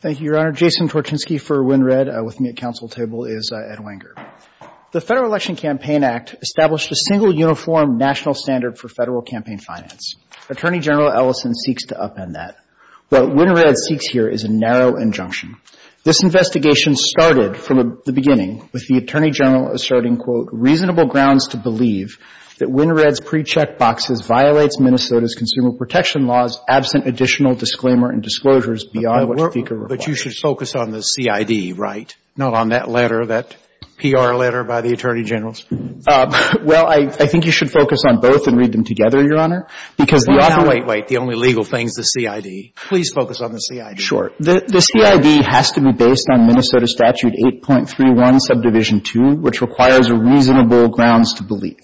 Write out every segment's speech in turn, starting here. Thank you, Your Honor. Jason Torchinsky for WinRED. With me at counsel table is Ed Wenger. The Federal Election Campaign Act established a single uniform national standard for federal campaign finance. Attorney General Ellison seeks to upend that. What WinRED seeks here is a narrow injunction. This investigation started from the beginning with the Attorney General asserting, quote, reasonable grounds to believe that WinRED's pre-check boxes violates Minnesota's consumer protection laws absent additional disclaimer and disclosures beyond what speaker requires. But you should focus on the CID, right? Not on that letter, that PR letter by the Attorney General's? Well, I think you should focus on both and read them together, Your Honor, because the author — Wait, wait. The only legal thing is the CID. Please focus on the CID. Sure. The CID has to be based on Minnesota Statute 8.31, Subdivision 2, which requires reasonable grounds to believe.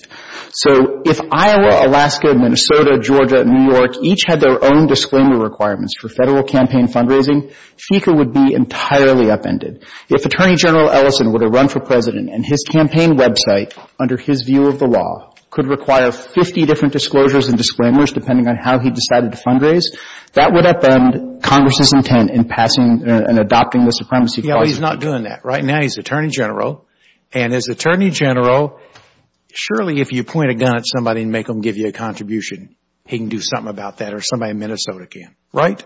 So if Iowa, Alaska, Minnesota, Georgia, and New York each had their own disclaimer requirements for federal campaign fundraising, FECA would be entirely upended. If Attorney General Ellison were to run for President and his campaign website, under his view of the law, could require 50 different disclosures and disclaimers depending on how he decided to fundraise, that would upend Congress's intent in passing and adopting the Supremacy Clause. Yeah, but he's not doing that. Right now he's Attorney General, and as Attorney General, surely if you point a gun at somebody and make them give you a contribution, he can do something about that, or somebody in Minnesota can. Right?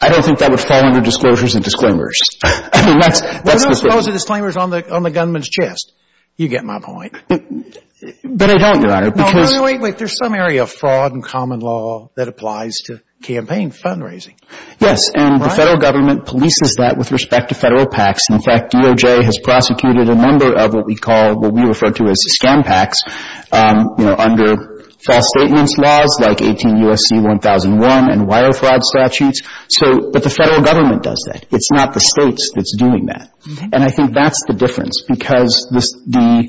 I don't think that would fall under disclosures and disclaimers. I mean, that's the thing. Well, he'll disclose the disclaimers on the gunman's chest. You get my point. But I don't, Your Honor, because — No, wait, wait, wait. There's some area of fraud and common law that applies to campaign fundraising. Yes, and the federal government polices that with respect to federal PACs. In fact, DOJ has prosecuted a number of what we call, what we refer to as, scam PACs, you know, under false statements laws like 18 U.S.C. 1001 and wire fraud statutes. So, but the federal government does that. It's not the States that's doing that. And I think that's the difference, because this, the,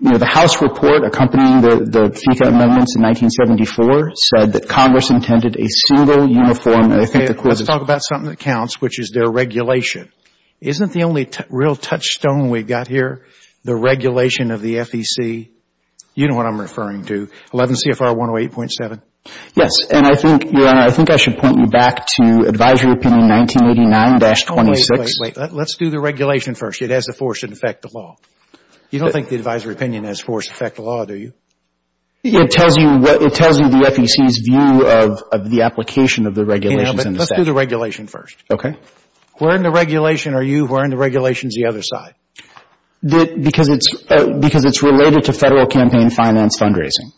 you know, the House report accompanying the FICA amendments in 1974 said that Congress intended a single, uniform, and I think the Court has — Okay. Let's talk about something that counts, which is their regulation. Isn't the only real touchstone we've got here the regulation of the FEC? You know what I'm referring to? 11 CFR 108.7? Yes, and I think, Your Honor, I think I should point you back to advisory opinion 1989-26. Oh, wait, wait, wait. Let's do the regulation first. It has the force that affect the law. You don't think the advisory opinion has force affect the law, do you? It tells you what, it tells you the FEC's view of the application of the regulations in the statute. Yeah, but let's do the regulation first. Okay. Where in the regulation are you? Where in the regulation is the other side? Because it's related to Federal campaign finance fundraising,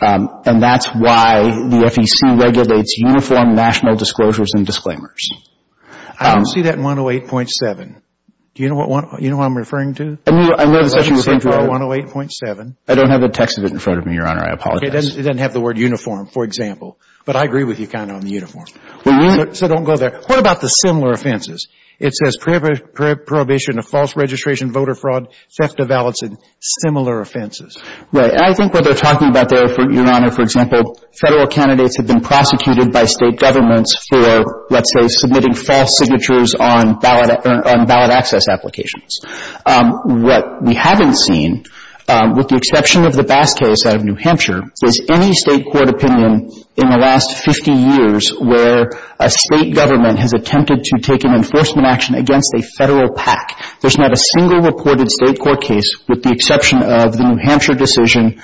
and that's why the FEC regulates uniform national disclosures and disclaimers. I don't see that in 108.7. Do you know what I'm referring to? I mean, 11 CFR 108.7. I don't have the text of it in front of me, Your Honor. I apologize. It doesn't have the word uniform, for example, but I agree with you kind of on the uniform. So don't go there. What about the similar offenses? It says prohibition of false registration voter fraud, theft of ballots, and similar offenses. Right. And I think what they're talking about there, Your Honor, for example, Federal candidates have been prosecuted by State governments for, let's say, submitting false signatures on ballot access applications. What we haven't seen, with the exception of the Bass case out of New Hampshire, is any State court opinion in the last 50 years where a State government has attempted to take an enforcement action against a Federal PAC. There's not a single reported State court case with the exception of the New Hampshire decision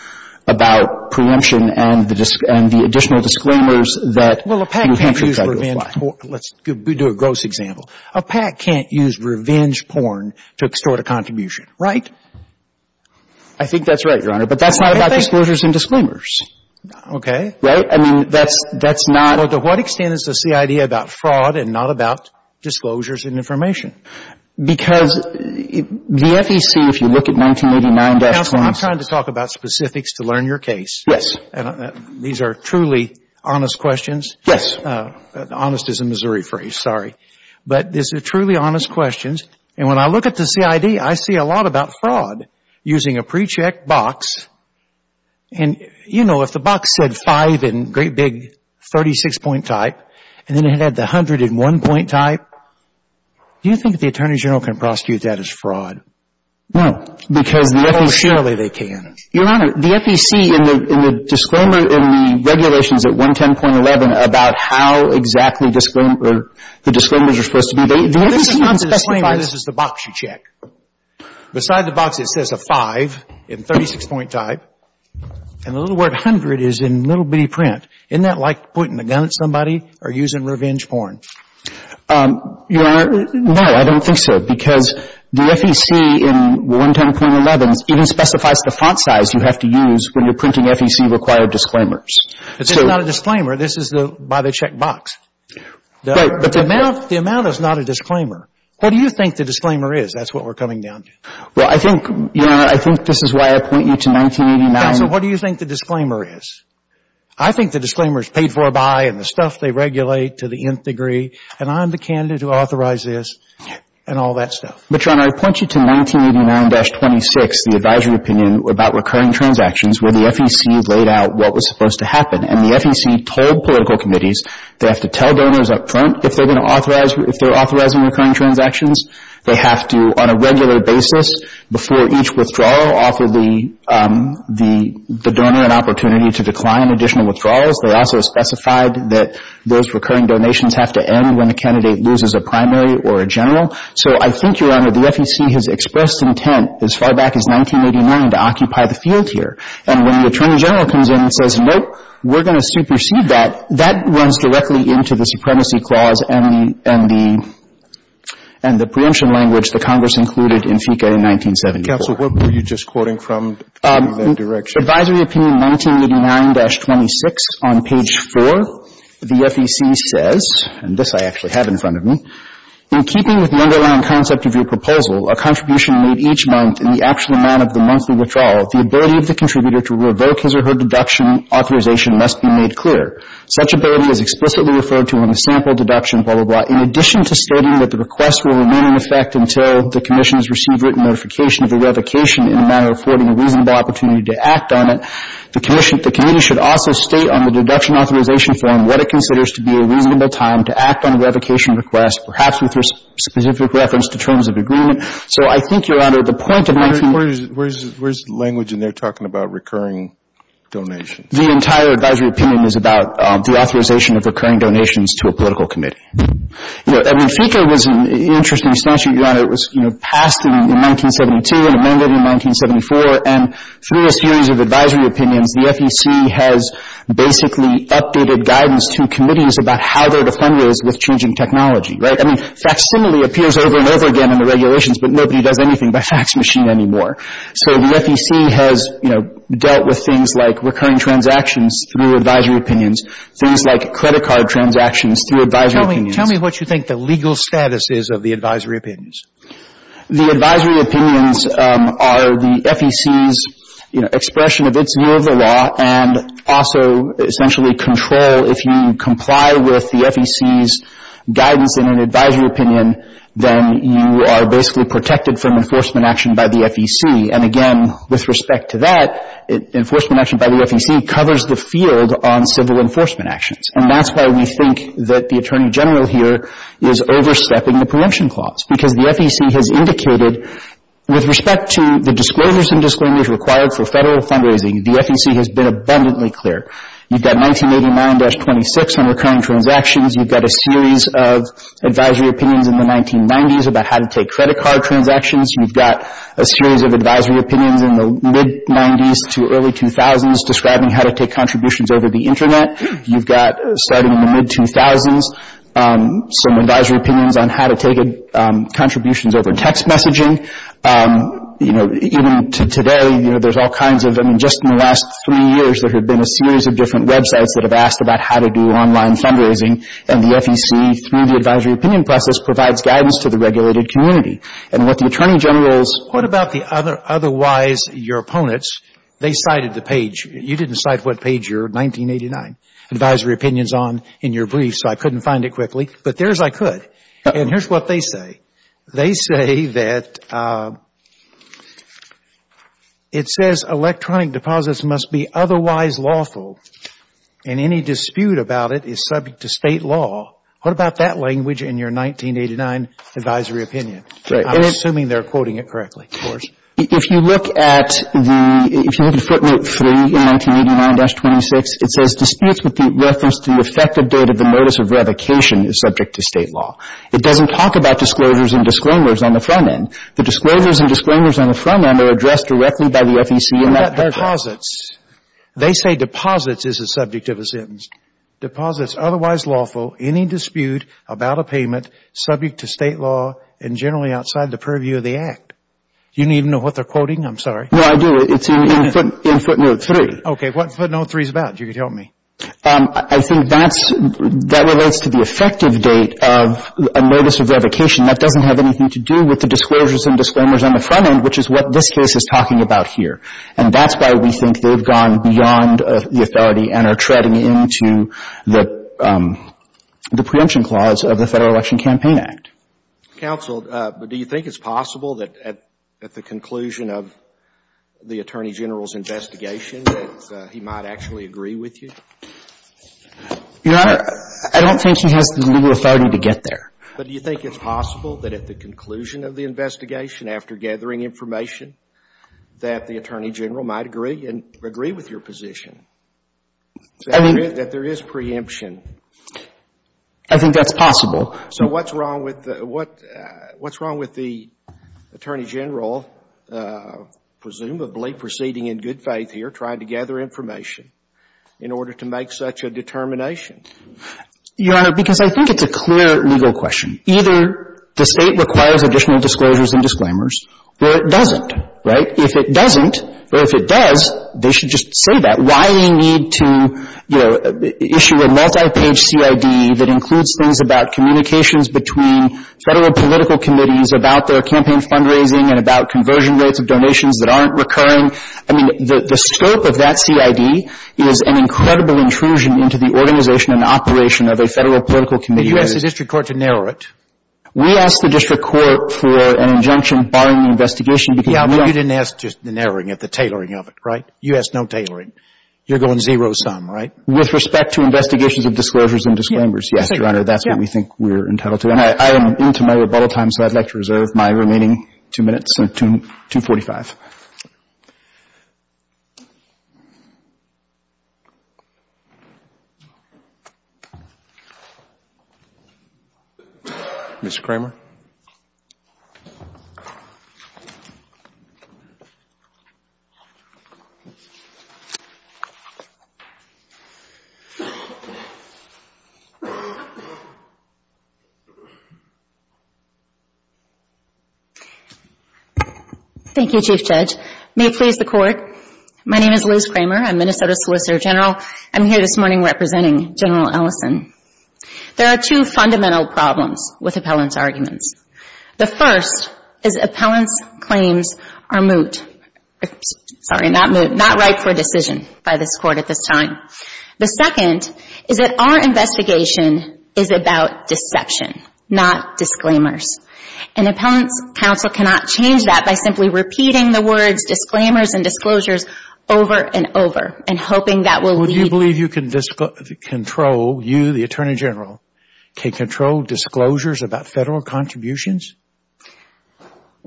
about preemption and the additional disclaimers that New Hampshire tried to apply. Well, a PAC can't use revenge porn. Let's do a gross example. A PAC can't use revenge porn to extort a contribution, right? I think that's right, Your Honor, but that's not about disclosures and disclaimers. Okay. Right? I mean, that's not – Well, to what extent is the CID about fraud and not about disclosures and information? Because the FEC, if you look at 1989-20 – Counsel, I'm trying to talk about specifics to learn your case. Yes. And these are truly honest questions. Yes. Honest is a Missouri phrase. Sorry. But these are truly honest questions. And when I look at the CID, I see a lot about fraud using a pre-checked box. And, you know, if the box said 5 in great big 36-point type, and then it had the 100 in 1-point type, do you think that the Attorney General can prosecute that as fraud? No. Because the FEC – Oh, surely they can. Your Honor, the FEC, in the disclaimer in the regulations at 110.11 about how exactly disclaimer – the disclaimers are supposed to be, they – The FEC does not specify this is the box you check. Beside the box, it says a 5 in 36-point type. And the little word 100 is in little bitty print. Isn't that like pointing a gun at somebody or using revenge porn? Your Honor, no, I don't think so. Because the FEC in 110.11 even specifies the font size you have to use when you're printing FEC-required disclaimers. This is not a disclaimer. This is by the checked box. But the amount – The amount is not a disclaimer. What do you think the disclaimer is? That's what we're coming down to. Well, I think, Your Honor, I think this is why I point you to 1989 – Counsel, what do you think the disclaimer is? I think the disclaimer is paid for by and the stuff they regulate to the nth degree. And I'm the candidate who authorized this and all that stuff. But, Your Honor, I point you to 1989-26, the advisory opinion about recurring transactions where the FEC laid out what was supposed to happen. And the FEC told political committees they have to tell donors up front if they're going to authorize – if they're authorizing recurring transactions. They have to, on a regular basis, before each withdrawal, offer the – the donor an opportunity to decline additional withdrawals. They also specified that those recurring donations have to end when the candidate loses a primary or a general. So I think, Your Honor, the FEC has expressed intent as far back as 1989 to occupy the field here. And when the Attorney General comes in and says, nope, we're going to supersede that, that runs directly into the Supremacy Clause and the – and the – and the preemption language the Congress included in FECA in 1974. Counsel, what were you just quoting from in that direction? Advisory opinion 1989-26, on page 4, the FEC says – and this I actually have in front of me – in keeping with the underlying concept of your proposal, a contribution made each month in the actual amount of the monthly withdrawal, the ability of the contributor to revoke his or her deduction authorization must be made clear. Such ability is explicitly referred to in the sample deduction, blah, blah, blah. In addition to stating that the request will remain in effect until the Commission has received written notification of the revocation in a manner affording a reasonable opportunity to act on it, the Commission – the Committee should also state on the deduction authorization form what it considers to be a reasonable time to act on a revocation request, perhaps with specific reference to terms of agreement. So I think, Your Honor, the point of 1989 – Where is – where is the language in there talking about recurring donations? The entire advisory opinion is about the authorization of recurring donations to a political committee. You know, Edwin FIKA was an interesting statute, Your Honor. It was, you know, passed in 1972 and amended in 1974, and through a series of advisory opinions, the FEC has basically updated guidance to committees about how they're to fund those with changing technology, right? I mean, facsimile appears over and over again in the regulations, but nobody does anything by fax machine anymore. So the FEC has, you know, dealt with things like recurring transactions through advisory opinions, things like credit card transactions through advisory opinions. Tell me – tell me what you think the legal status is of the advisory opinions. The advisory opinions are the FEC's, you know, expression of its view of the law and also essentially control. If you comply with the FEC's guidance in an advisory opinion, then you are basically protected from enforcement action by the FEC. And again, with respect to that, enforcement action by the FEC covers the field on civil enforcement actions. And that's why we think that the Attorney General here is overstepping the preemption clause, because the FEC has indicated with respect to the disclosures and disclaimers required for Federal fundraising, the FEC has been abundantly clear. You've got 1989-26 on recurring transactions. You've got a series of advisory opinions in the 1990s about how to take credit card transactions. You've got a series of advisory opinions in the mid 90s to early 2000s describing how to take contributions over the Internet. You've got, starting in the mid-2000s, some advisory opinions on how to take contributions over text messaging. You know, even today, you know, there's all kinds of – I mean, just in the last three years, there have been a series of different websites that have asked about how to do online fundraising. And the FEC, through the advisory opinion process, provides guidance to the regulated community. And what the Attorney General is – they cited the page – you didn't cite what page your 1989 advisory opinion is on in your brief, so I couldn't find it quickly. But there's I could. And here's what they say. They say that it says electronic deposits must be otherwise lawful, and any dispute about it is subject to State law. What about that language in your 1989 advisory opinion? I'm assuming they're quoting it correctly, of course. If you look at the – if you look at footnote 3 in 1989-26, it says disputes with the reference to the effective date of the motus of revocation is subject to State law. It doesn't talk about disclosures and disclaimers on the front end. The disclosures and disclaimers on the front end are addressed directly by the FEC in that paragraph. Deposits. They say deposits is the subject of a sentence. Deposits otherwise lawful, any dispute about a payment, subject to State law, and generally outside the purview of the Act. You don't even know what they're quoting? I'm sorry. No, I do. It's in footnote 3. Okay. What footnote 3 is about? You can tell me. I think that's – that relates to the effective date of a motus of revocation. That doesn't have anything to do with the disclosures and disclaimers on the front end, which is what this case is talking about here. And that's why we think they've gone beyond the authority and are treading into the preemption clause of the Federal Election Campaign Act. Counsel, but do you think it's possible that at the conclusion of the Attorney General's investigation that he might actually agree with you? Your Honor, I don't think he has the legal authority to get there. But do you think it's possible that at the conclusion of the investigation, after gathering information, that the Attorney General might agree with your position, that there is preemption? I think that's possible. So what's wrong with the Attorney General, presumably proceeding in good faith here, trying to gather information in order to make such a determination? Your Honor, because I think it's a clear legal question. Either the State requires additional disclosures and disclaimers or it doesn't, right? If it doesn't or if it does, they should just say that. Why we need to, you know, issue a multi-page CID that includes things about communications between Federal political committees about their campaign fundraising and about conversion rates of donations that aren't recurring. I mean, the scope of that CID is an incredible intrusion into the organization and operation of a Federal political committee. But you asked the district court to narrow it. We asked the district court for an injunction barring the investigation because You didn't ask just the narrowing of it, the tailoring of it, right? You asked no tailoring. You're going zero sum, right? With respect to investigations of disclosures and disclaimers, yes, Your Honor, that's what we think we're entitled to. And I am into my rebuttal time, so I'd like to reserve my remaining two minutes until 245. Mr. Kramer. Thank you. Thank you, Chief Judge. May it please the Court. My name is Liz Kramer. I'm Minnesota Solicitor General. I'm here this morning representing General Ellison. There are two fundamental problems with appellant's arguments. The first is appellant's claims are moot. Sorry, not moot. Not right for a decision by this Court at this time. The second is that our investigation is about deception, not disclaimers. And appellant's counsel cannot change that by simply repeating the words disclaimers and disclosures over and over and hoping that will lead... Well, do you believe you can control, you, the Attorney General, can control disclosures about federal contributions?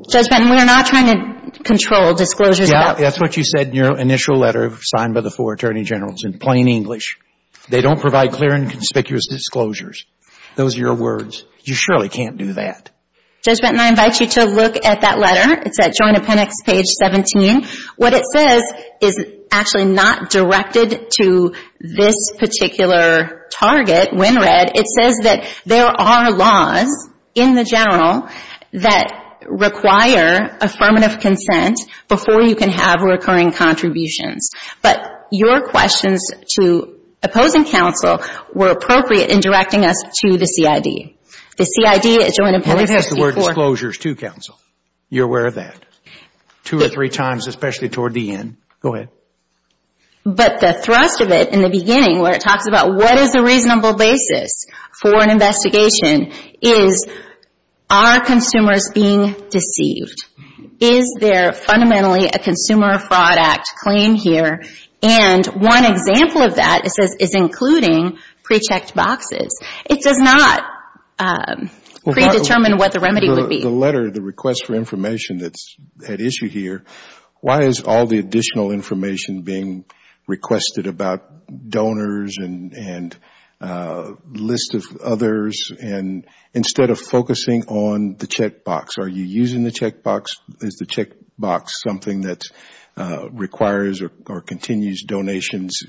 Judge Benton, we are not trying to control disclosures about... That's what you said in your initial letter signed by the four Attorney Generals in plain English. They don't provide clear and conspicuous disclosures. Those are your words. You surely can't do that. Judge Benton, I invite you to look at that letter. It's at Joint Appendix, page 17. What it says is actually not directed to this particular target, Wynnred. It says that there are laws in the general that require affirmative consent before you can have recurring contributions. But your questions to opposing counsel were appropriate in directing us to the CID. The CID at Joint Appendix 64... Well, it says the word disclosures, too, counsel. You're aware of that. Two or three times, especially toward the end. Go ahead. But the thrust of it in the beginning where it talks about what is a reasonable basis for an investigation is are consumers being deceived? Is there fundamentally a Consumer Fraud Act claim here? And one example of that is including pre-checked boxes. It does not predetermine what the remedy would be. The letter, the request for information that's at issue here, why is all the additional information being requested about donors and lists of others instead of focusing on the checkbox? Are you using the checkbox? Is the checkbox something that requires or continues donations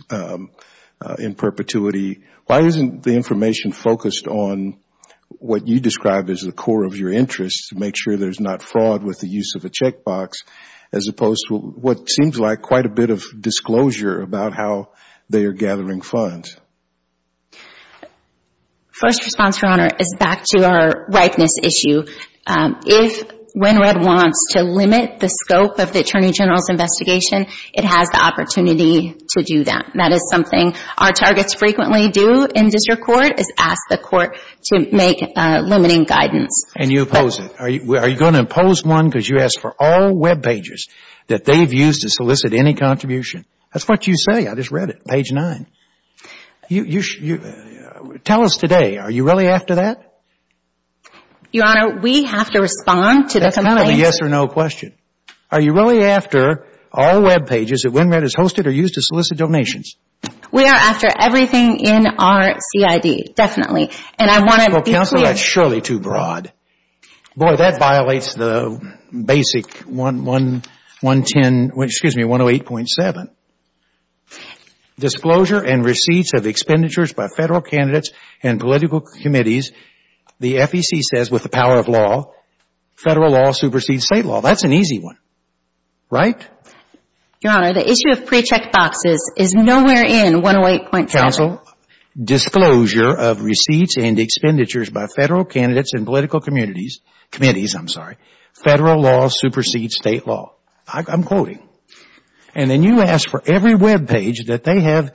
in perpetuity? Why isn't the information focused on what you describe as the core of your interests to make sure there's not fraud with the use of a checkbox? As opposed to what seems like quite a bit of disclosure about how they are gathering funds. First response, Your Honor, is back to our ripeness issue. If Wynnred wants to limit the scope of the Attorney General's investigation, it has the opportunity to do that. That is something our targets frequently do in district court is ask the court to make limiting guidance. And you oppose it. Are you going to impose one because you ask for all web pages that they've used to solicit any contribution? That's what you say. I just read it. Page 9. Tell us today. Are you really after that? Your Honor, we have to respond to the families. That's another yes or no question. Are you really after all web pages that Wynnred has hosted or used to solicit donations? We are after everything in our CID, definitely. And I want to be clear. Counselor, that's surely too broad. Boy, that violates the basic 108.7. Disclosure and receipts of expenditures by federal candidates and political committees. The FEC says with the power of law, federal law supersedes state law. That's an easy one, right? Your Honor, the issue of pre-check boxes is nowhere in 108.7. Counsel, disclosure of receipts and expenditures by federal candidates and political committees, federal law supersedes state law. I'm quoting. And then you ask for every web page that they have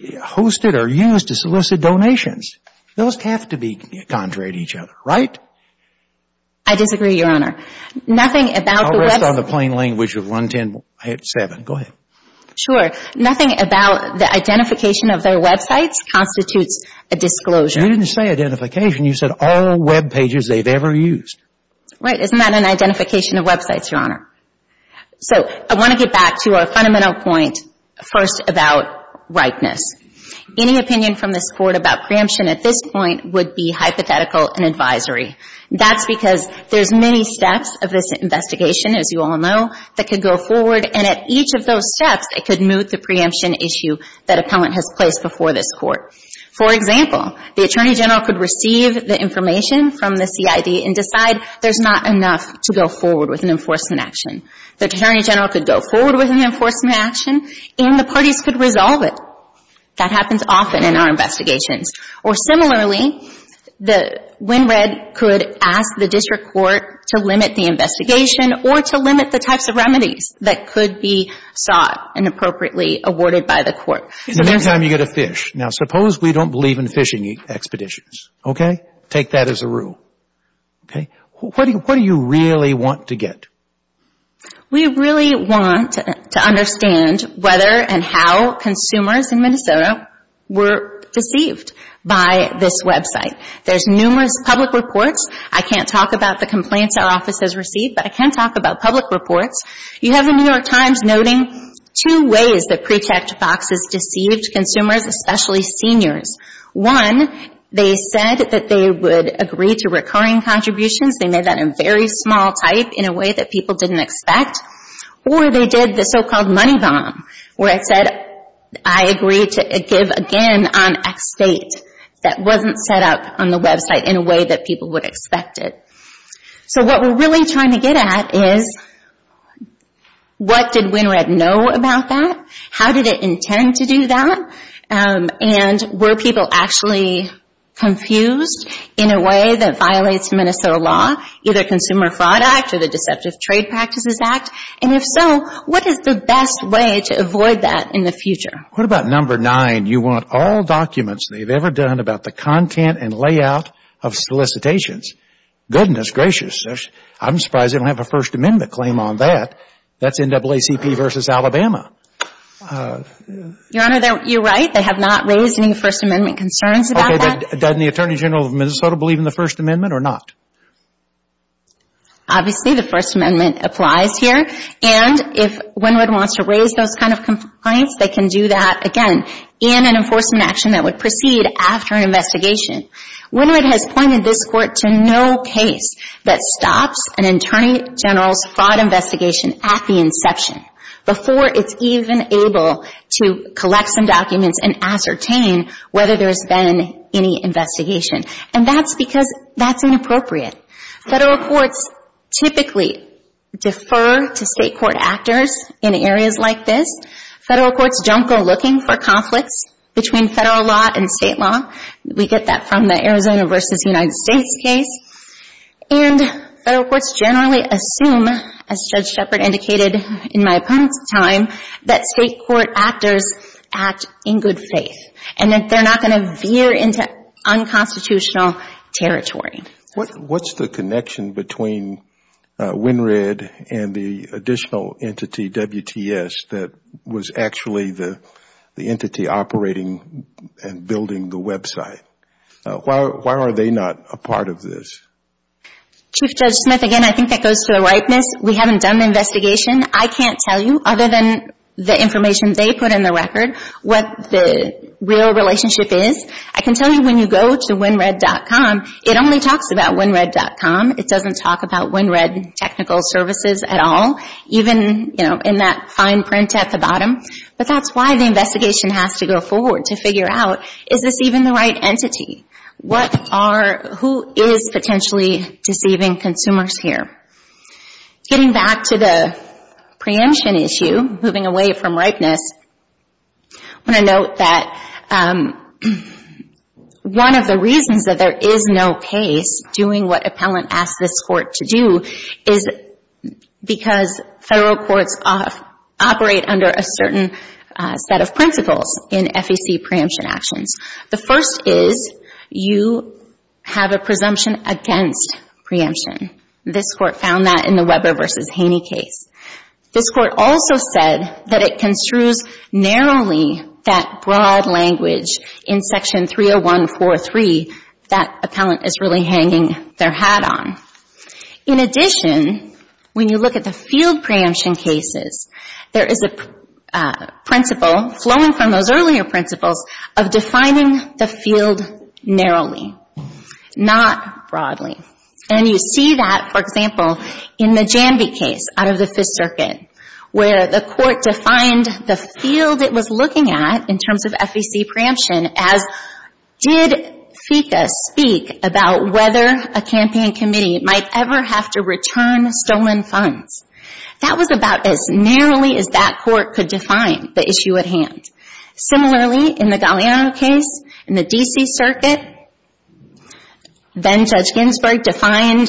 hosted or used to solicit donations. Those have to be contrary to each other, right? I disagree, Your Honor. I'll rest on the plain language of 110.7. Go ahead. Sure. Nothing about the identification of their websites constitutes a disclosure. You didn't say identification. You said all web pages they've ever used. Right. Isn't that an identification of websites, Your Honor? So I want to get back to our fundamental point first about ripeness. Any opinion from this Court about preemption at this point would be hypothetical and advisory. That's because there's many steps of this investigation, as you all know, that could go forward. And at each of those steps, it could move the preemption issue that appellant has placed before this Court. For example, the Attorney General could receive the information from the CID and decide there's not enough to go forward with an enforcement action. The Attorney General could go forward with an enforcement action and the parties could resolve it. That happens often in our investigations. Or similarly, the Wynnred could ask the District Court to limit the investigation or to limit the types of remedies that could be sought and appropriately awarded by the Court. In the meantime, you get a fish. Now, suppose we don't believe in fishing expeditions. Okay? Take that as a rule. Okay? What do you really want to get? We really want to understand whether and how consumers in Minnesota were deceived by this website. There's numerous public reports. I can't talk about the complaints our office has received, but I can talk about public reports. You have the New York Times noting two ways that pre-checked boxes deceived consumers, especially seniors. One, they said that they would agree to recurring contributions. They made that a very small type in a way that people didn't expect. Or they did the so-called money bomb where it said, I agree to give again on X date. That wasn't set up on the website in a way that people would expect it. So what we're really trying to get at is what did Wynnred know about that? How did it intend to do that? And were people actually confused in a way that violates Minnesota law, either Consumer Fraud Act or the Deceptive Trade Practices Act? And if so, what is the best way to avoid that in the future? What about number nine? You want all documents they've ever done about the content and layout of solicitations. Goodness gracious. I'm surprised they don't have a First Amendment claim on that. That's NAACP versus Alabama. Your Honor, you're right. They have not raised any First Amendment concerns about that. Does the Attorney General of Minnesota believe in the First Amendment or not? Obviously, the First Amendment applies here. And if Wynnred wants to raise those kind of complaints, they can do that, again, in an enforcement action that would proceed after an investigation. Wynnred has pointed this Court to no case that stops an Attorney General's fraud investigation at the inception before it's even able to collect some documents and ascertain whether there's been any investigation. And that's because that's inappropriate. Federal courts typically defer to state court actors in areas like this. Federal courts don't go looking for conflicts between federal law and state law. We get that from the Arizona v. United States case. And federal courts generally assume, as Judge Shepard indicated in my opponent's time, that state court actors act in good faith and that they're not going to veer into unconstitutional territory. What's the connection between Wynnred and the additional entity, WTS, that was actually the entity operating and building the website? Why are they not a part of this? Chief Judge Smith, again, I think that goes to the rightness. We haven't done the investigation. I can't tell you, other than the information they put in the record, what the real relationship is. I can tell you when you go to Wynnred.com, it only talks about Wynnred.com. It doesn't talk about Wynnred Technical Services at all, even in that fine print at the bottom. But that's why the investigation has to go forward to figure out, is this even the right entity? Who is potentially deceiving consumers here? Getting back to the preemption issue, moving away from rightness, I want to note that one of the reasons that there is no case doing what appellant asked this court to do is because federal courts operate under a certain set of principles in FEC preemption actions. The first is you have a presumption against preemption. This court found that in the Weber v. Haney case. This court also said that it construes narrowly that broad language in Section 301.4.3 that appellant is really hanging their hat on. In addition, when you look at the field preemption cases, there is a principle flowing from those earlier principles of defining the field narrowly, not broadly. And you see that, for example, in the Janvey case out of the Fifth Circuit, where the court defined the field it was looking at in terms of FEC preemption as, did FECA speak about whether a campaign committee might ever have to return stolen funds? That was about as narrowly as that court could define the issue at hand. Similarly, in the Galliano case in the D.C. Circuit, then-Judge Ginsburg defined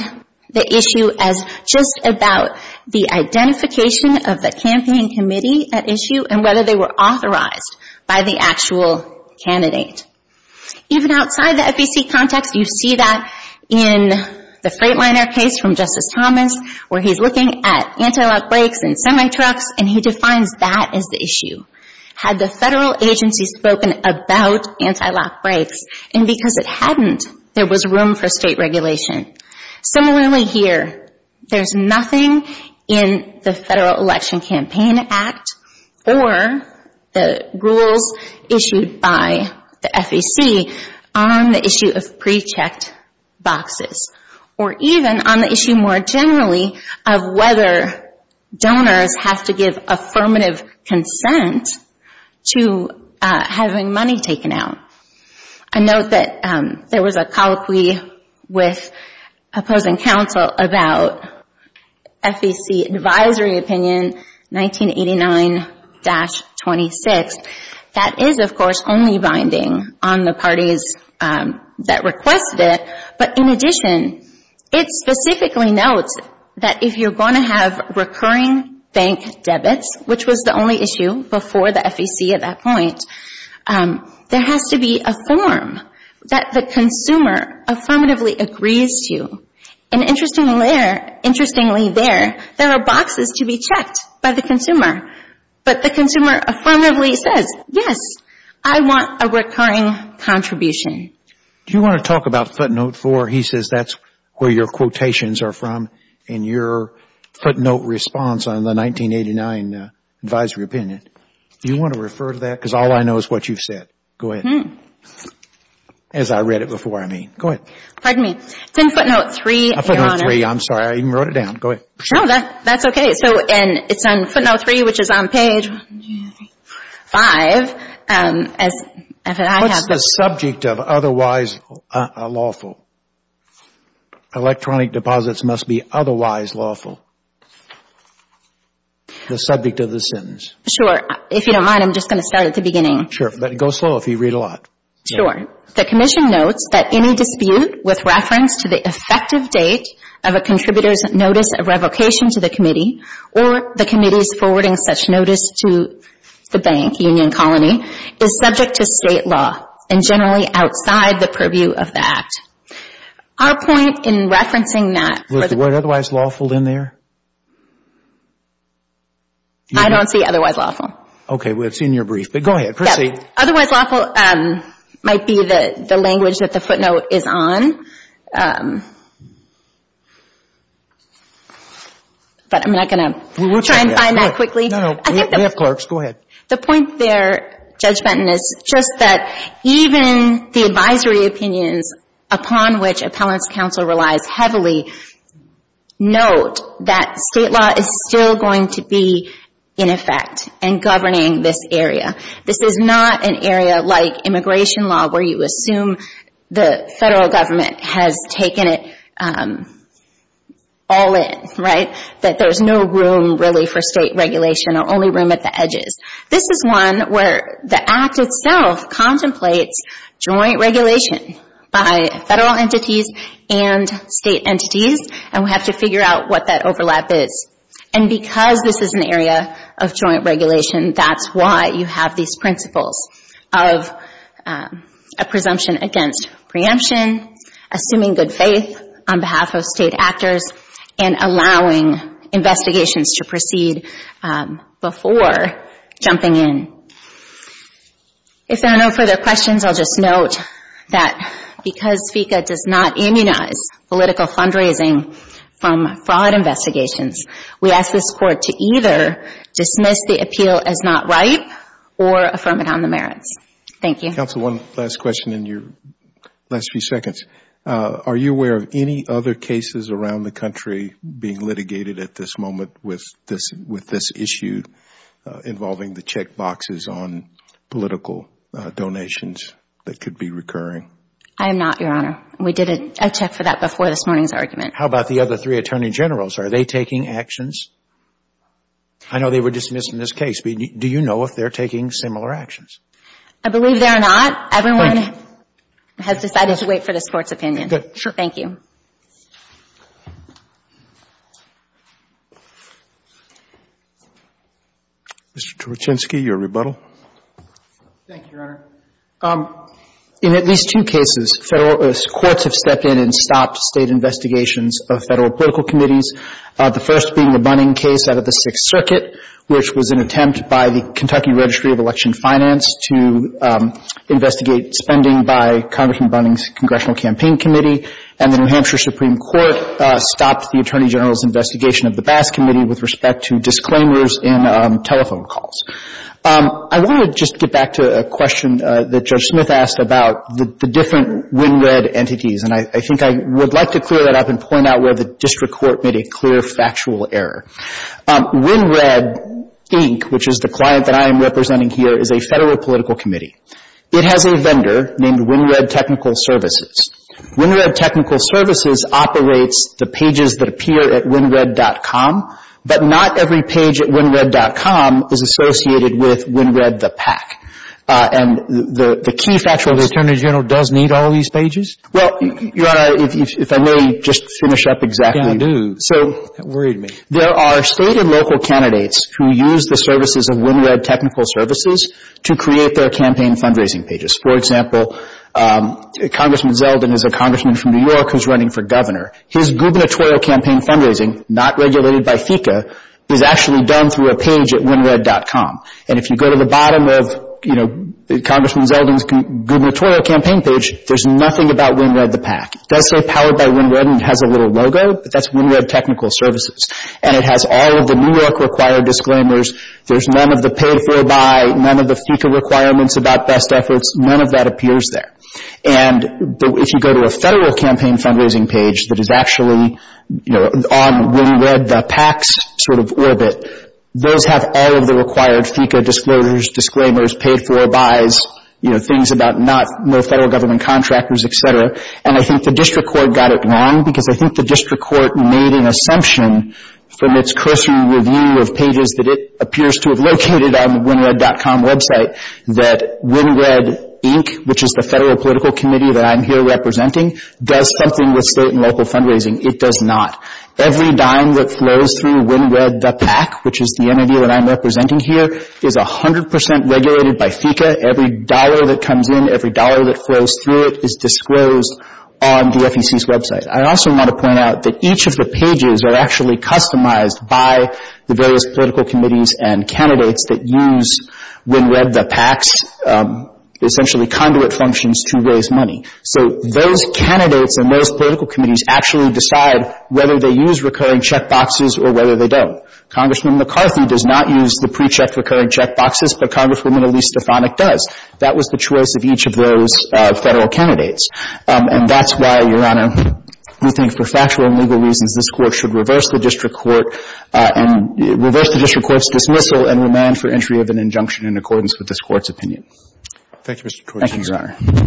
the issue as just about the identification of the campaign committee at issue and whether they were authorized by the actual candidate. Even outside the FEC context, you see that in the Freightliner case from Justice Thomas, where he's looking at antilock brakes and semi-trucks, and he defines that as the issue. Had the federal agency spoken about antilock brakes? And because it hadn't, there was room for state regulation. Similarly here, there's nothing in the Federal Election Campaign Act or the rules issued by the FEC on the issue of pre-checked boxes. Or even on the issue more generally of whether donors have to give affirmative consent to having money taken out. I note that there was a colloquy with opposing counsel about FEC advisory opinion 1989-26. that requested it, but in addition, it specifically notes that if you're going to have recurring bank debits, which was the only issue before the FEC at that point, there has to be a form that the consumer affirmatively agrees to. And interestingly there, there are boxes to be checked by the consumer, but the consumer affirmatively says, yes, I want a recurring contribution. Do you want to talk about footnote 4? He says that's where your quotations are from in your footnote response on the 1989 advisory opinion. Do you want to refer to that? Because all I know is what you've said. Go ahead. As I read it before, I mean. Go ahead. Pardon me. It's in footnote 3, Your Honor. Footnote 3, I'm sorry. I even wrote it down. Go ahead. No, that's okay. And it's on footnote 3, which is on page 5. What's the subject of otherwise lawful? Electronic deposits must be otherwise lawful. The subject of the sins. Sure. If you don't mind, I'm just going to start at the beginning. Sure. But go slow if you read a lot. Sure. The Commission notes that any dispute with reference to the effective date of a contributor's notice of revocation to the Committee or the Committee's forwarding such notice to the bank, Union Colony, is subject to State law and generally outside the purview of the Act. Our point in referencing that. Was the word otherwise lawful in there? I don't see otherwise lawful. Okay. Well, it's in your brief. But go ahead. Proceed. Otherwise lawful might be the language that the footnote is on. But I'm not going to try and find that quickly. No, no. We have clerks. Go ahead. The point there, Judge Benton, is just that even the advisory opinions upon which Appellant's Counsel relies heavily note that State law is still going to be in effect and governing this area. This is not an area like immigration law where you assume the Federal Government has taken it all in, right? That there's no room really for State regulation or only room at the edges. This is one where the Act itself contemplates joint regulation by Federal entities and State entities and we have to figure out what that overlap is. And because this is an area of joint regulation, that's why you have these principles of a presumption against preemption, assuming good faith on behalf of State actors, and allowing investigations to proceed before jumping in. If there are no further questions, I'll just note that because FECA does not immunize political fundraising from fraud investigations, we ask this Court to either dismiss the appeal as not right or affirm it on the merits. Thank you. Counsel, one last question in your last few seconds. Are you aware of any other cases around the country being litigated at this moment with this issue involving the check boxes on political donations that could be recurring? I am not, Your Honor. We did a check for that before this morning's argument. How about the other three Attorney Generals? Are they taking actions? I know they were dismissed in this case, but do you know if they're taking similar actions? I believe they're not. Everyone has decided to wait for this Court's opinion. Good. Thank you. Mr. Torchinsky, your rebuttal. Thank you, Your Honor. In at least two cases, courts have stepped in and stopped State investigations of Federal political committees, the first being the Bunning case out of the Sixth Circuit, which was an attempt by the Kentucky Registry of Election Finance to investigate spending by Congressman Bunning's Congressional Campaign Committee, and the New Hampshire Supreme Court stopped the Attorney General's investigation of the Bass Committee with respect to disclaimers in telephone calls. I want to just get back to a question that Judge Smith asked about the different win-win entities, and I think I would like to clear that up and point out where the District Court made a clear factual error. WinRed, Inc., which is the client that I am representing here, is a Federal political committee. It has a vendor named WinRed Technical Services. WinRed Technical Services operates the pages that appear at winred.com, but not every page at winred.com is associated with WinRed the PAC. And the key factual... So the Attorney General does need all these pages? Well, Your Honor, if I may just finish up exactly... Yeah, do. That worried me. There are state and local candidates who use the services of WinRed Technical Services to create their campaign fundraising pages. For example, Congressman Zeldin is a congressman from New York who's running for governor. His gubernatorial campaign fundraising, not regulated by FECA, is actually done through a page at winred.com. And if you go to the bottom of, you know, Congressman Zeldin's gubernatorial campaign page, there's nothing about WinRed the PAC. It does say powered by WinRed and has a little logo, but that's WinRed Technical Services. And it has all of the New York required disclaimers. There's none of the paid-for by, none of the FECA requirements about best efforts. None of that appears there. And if you go to a Federal campaign fundraising page that is actually, you know, on WinRed the PAC's sort of orbit, those have all of the required FECA disclosures, disclaimers, paid-for bys, you know, things about not, no Federal government contractors, et cetera. And I think the district court got it wrong because I think the district court made an assumption from its cursory review of pages that it appears to have located on winred.com website that WinRed, Inc., which is the Federal political committee that I'm here representing, does something with state and local fundraising. It does not. Every dime that flows through WinRed the PAC, which is the entity that I'm representing here, is 100% regulated by FECA. Every dollar that comes in, every dollar that flows through it is disclosed on the FEC's website. I also want to point out that each of the pages are actually customized by the various political committees and candidates that use WinRed the PAC's essentially conduit functions to raise money. So those candidates and those political committees actually decide whether they use recurring checkboxes or whether they don't. Congressman McCarthy does not use the pre-checked recurring checkboxes, but Congresswoman Elise Stefanik does. That was the choice of each of those Federal candidates. And that's why, Your Honor, we think for factual and legal reasons this Court should reverse the district court and reverse the district court's dismissal and remand for entry of an injunction in accordance with this Court's opinion. Thank you, Mr. Court. Thank you, Your Honor.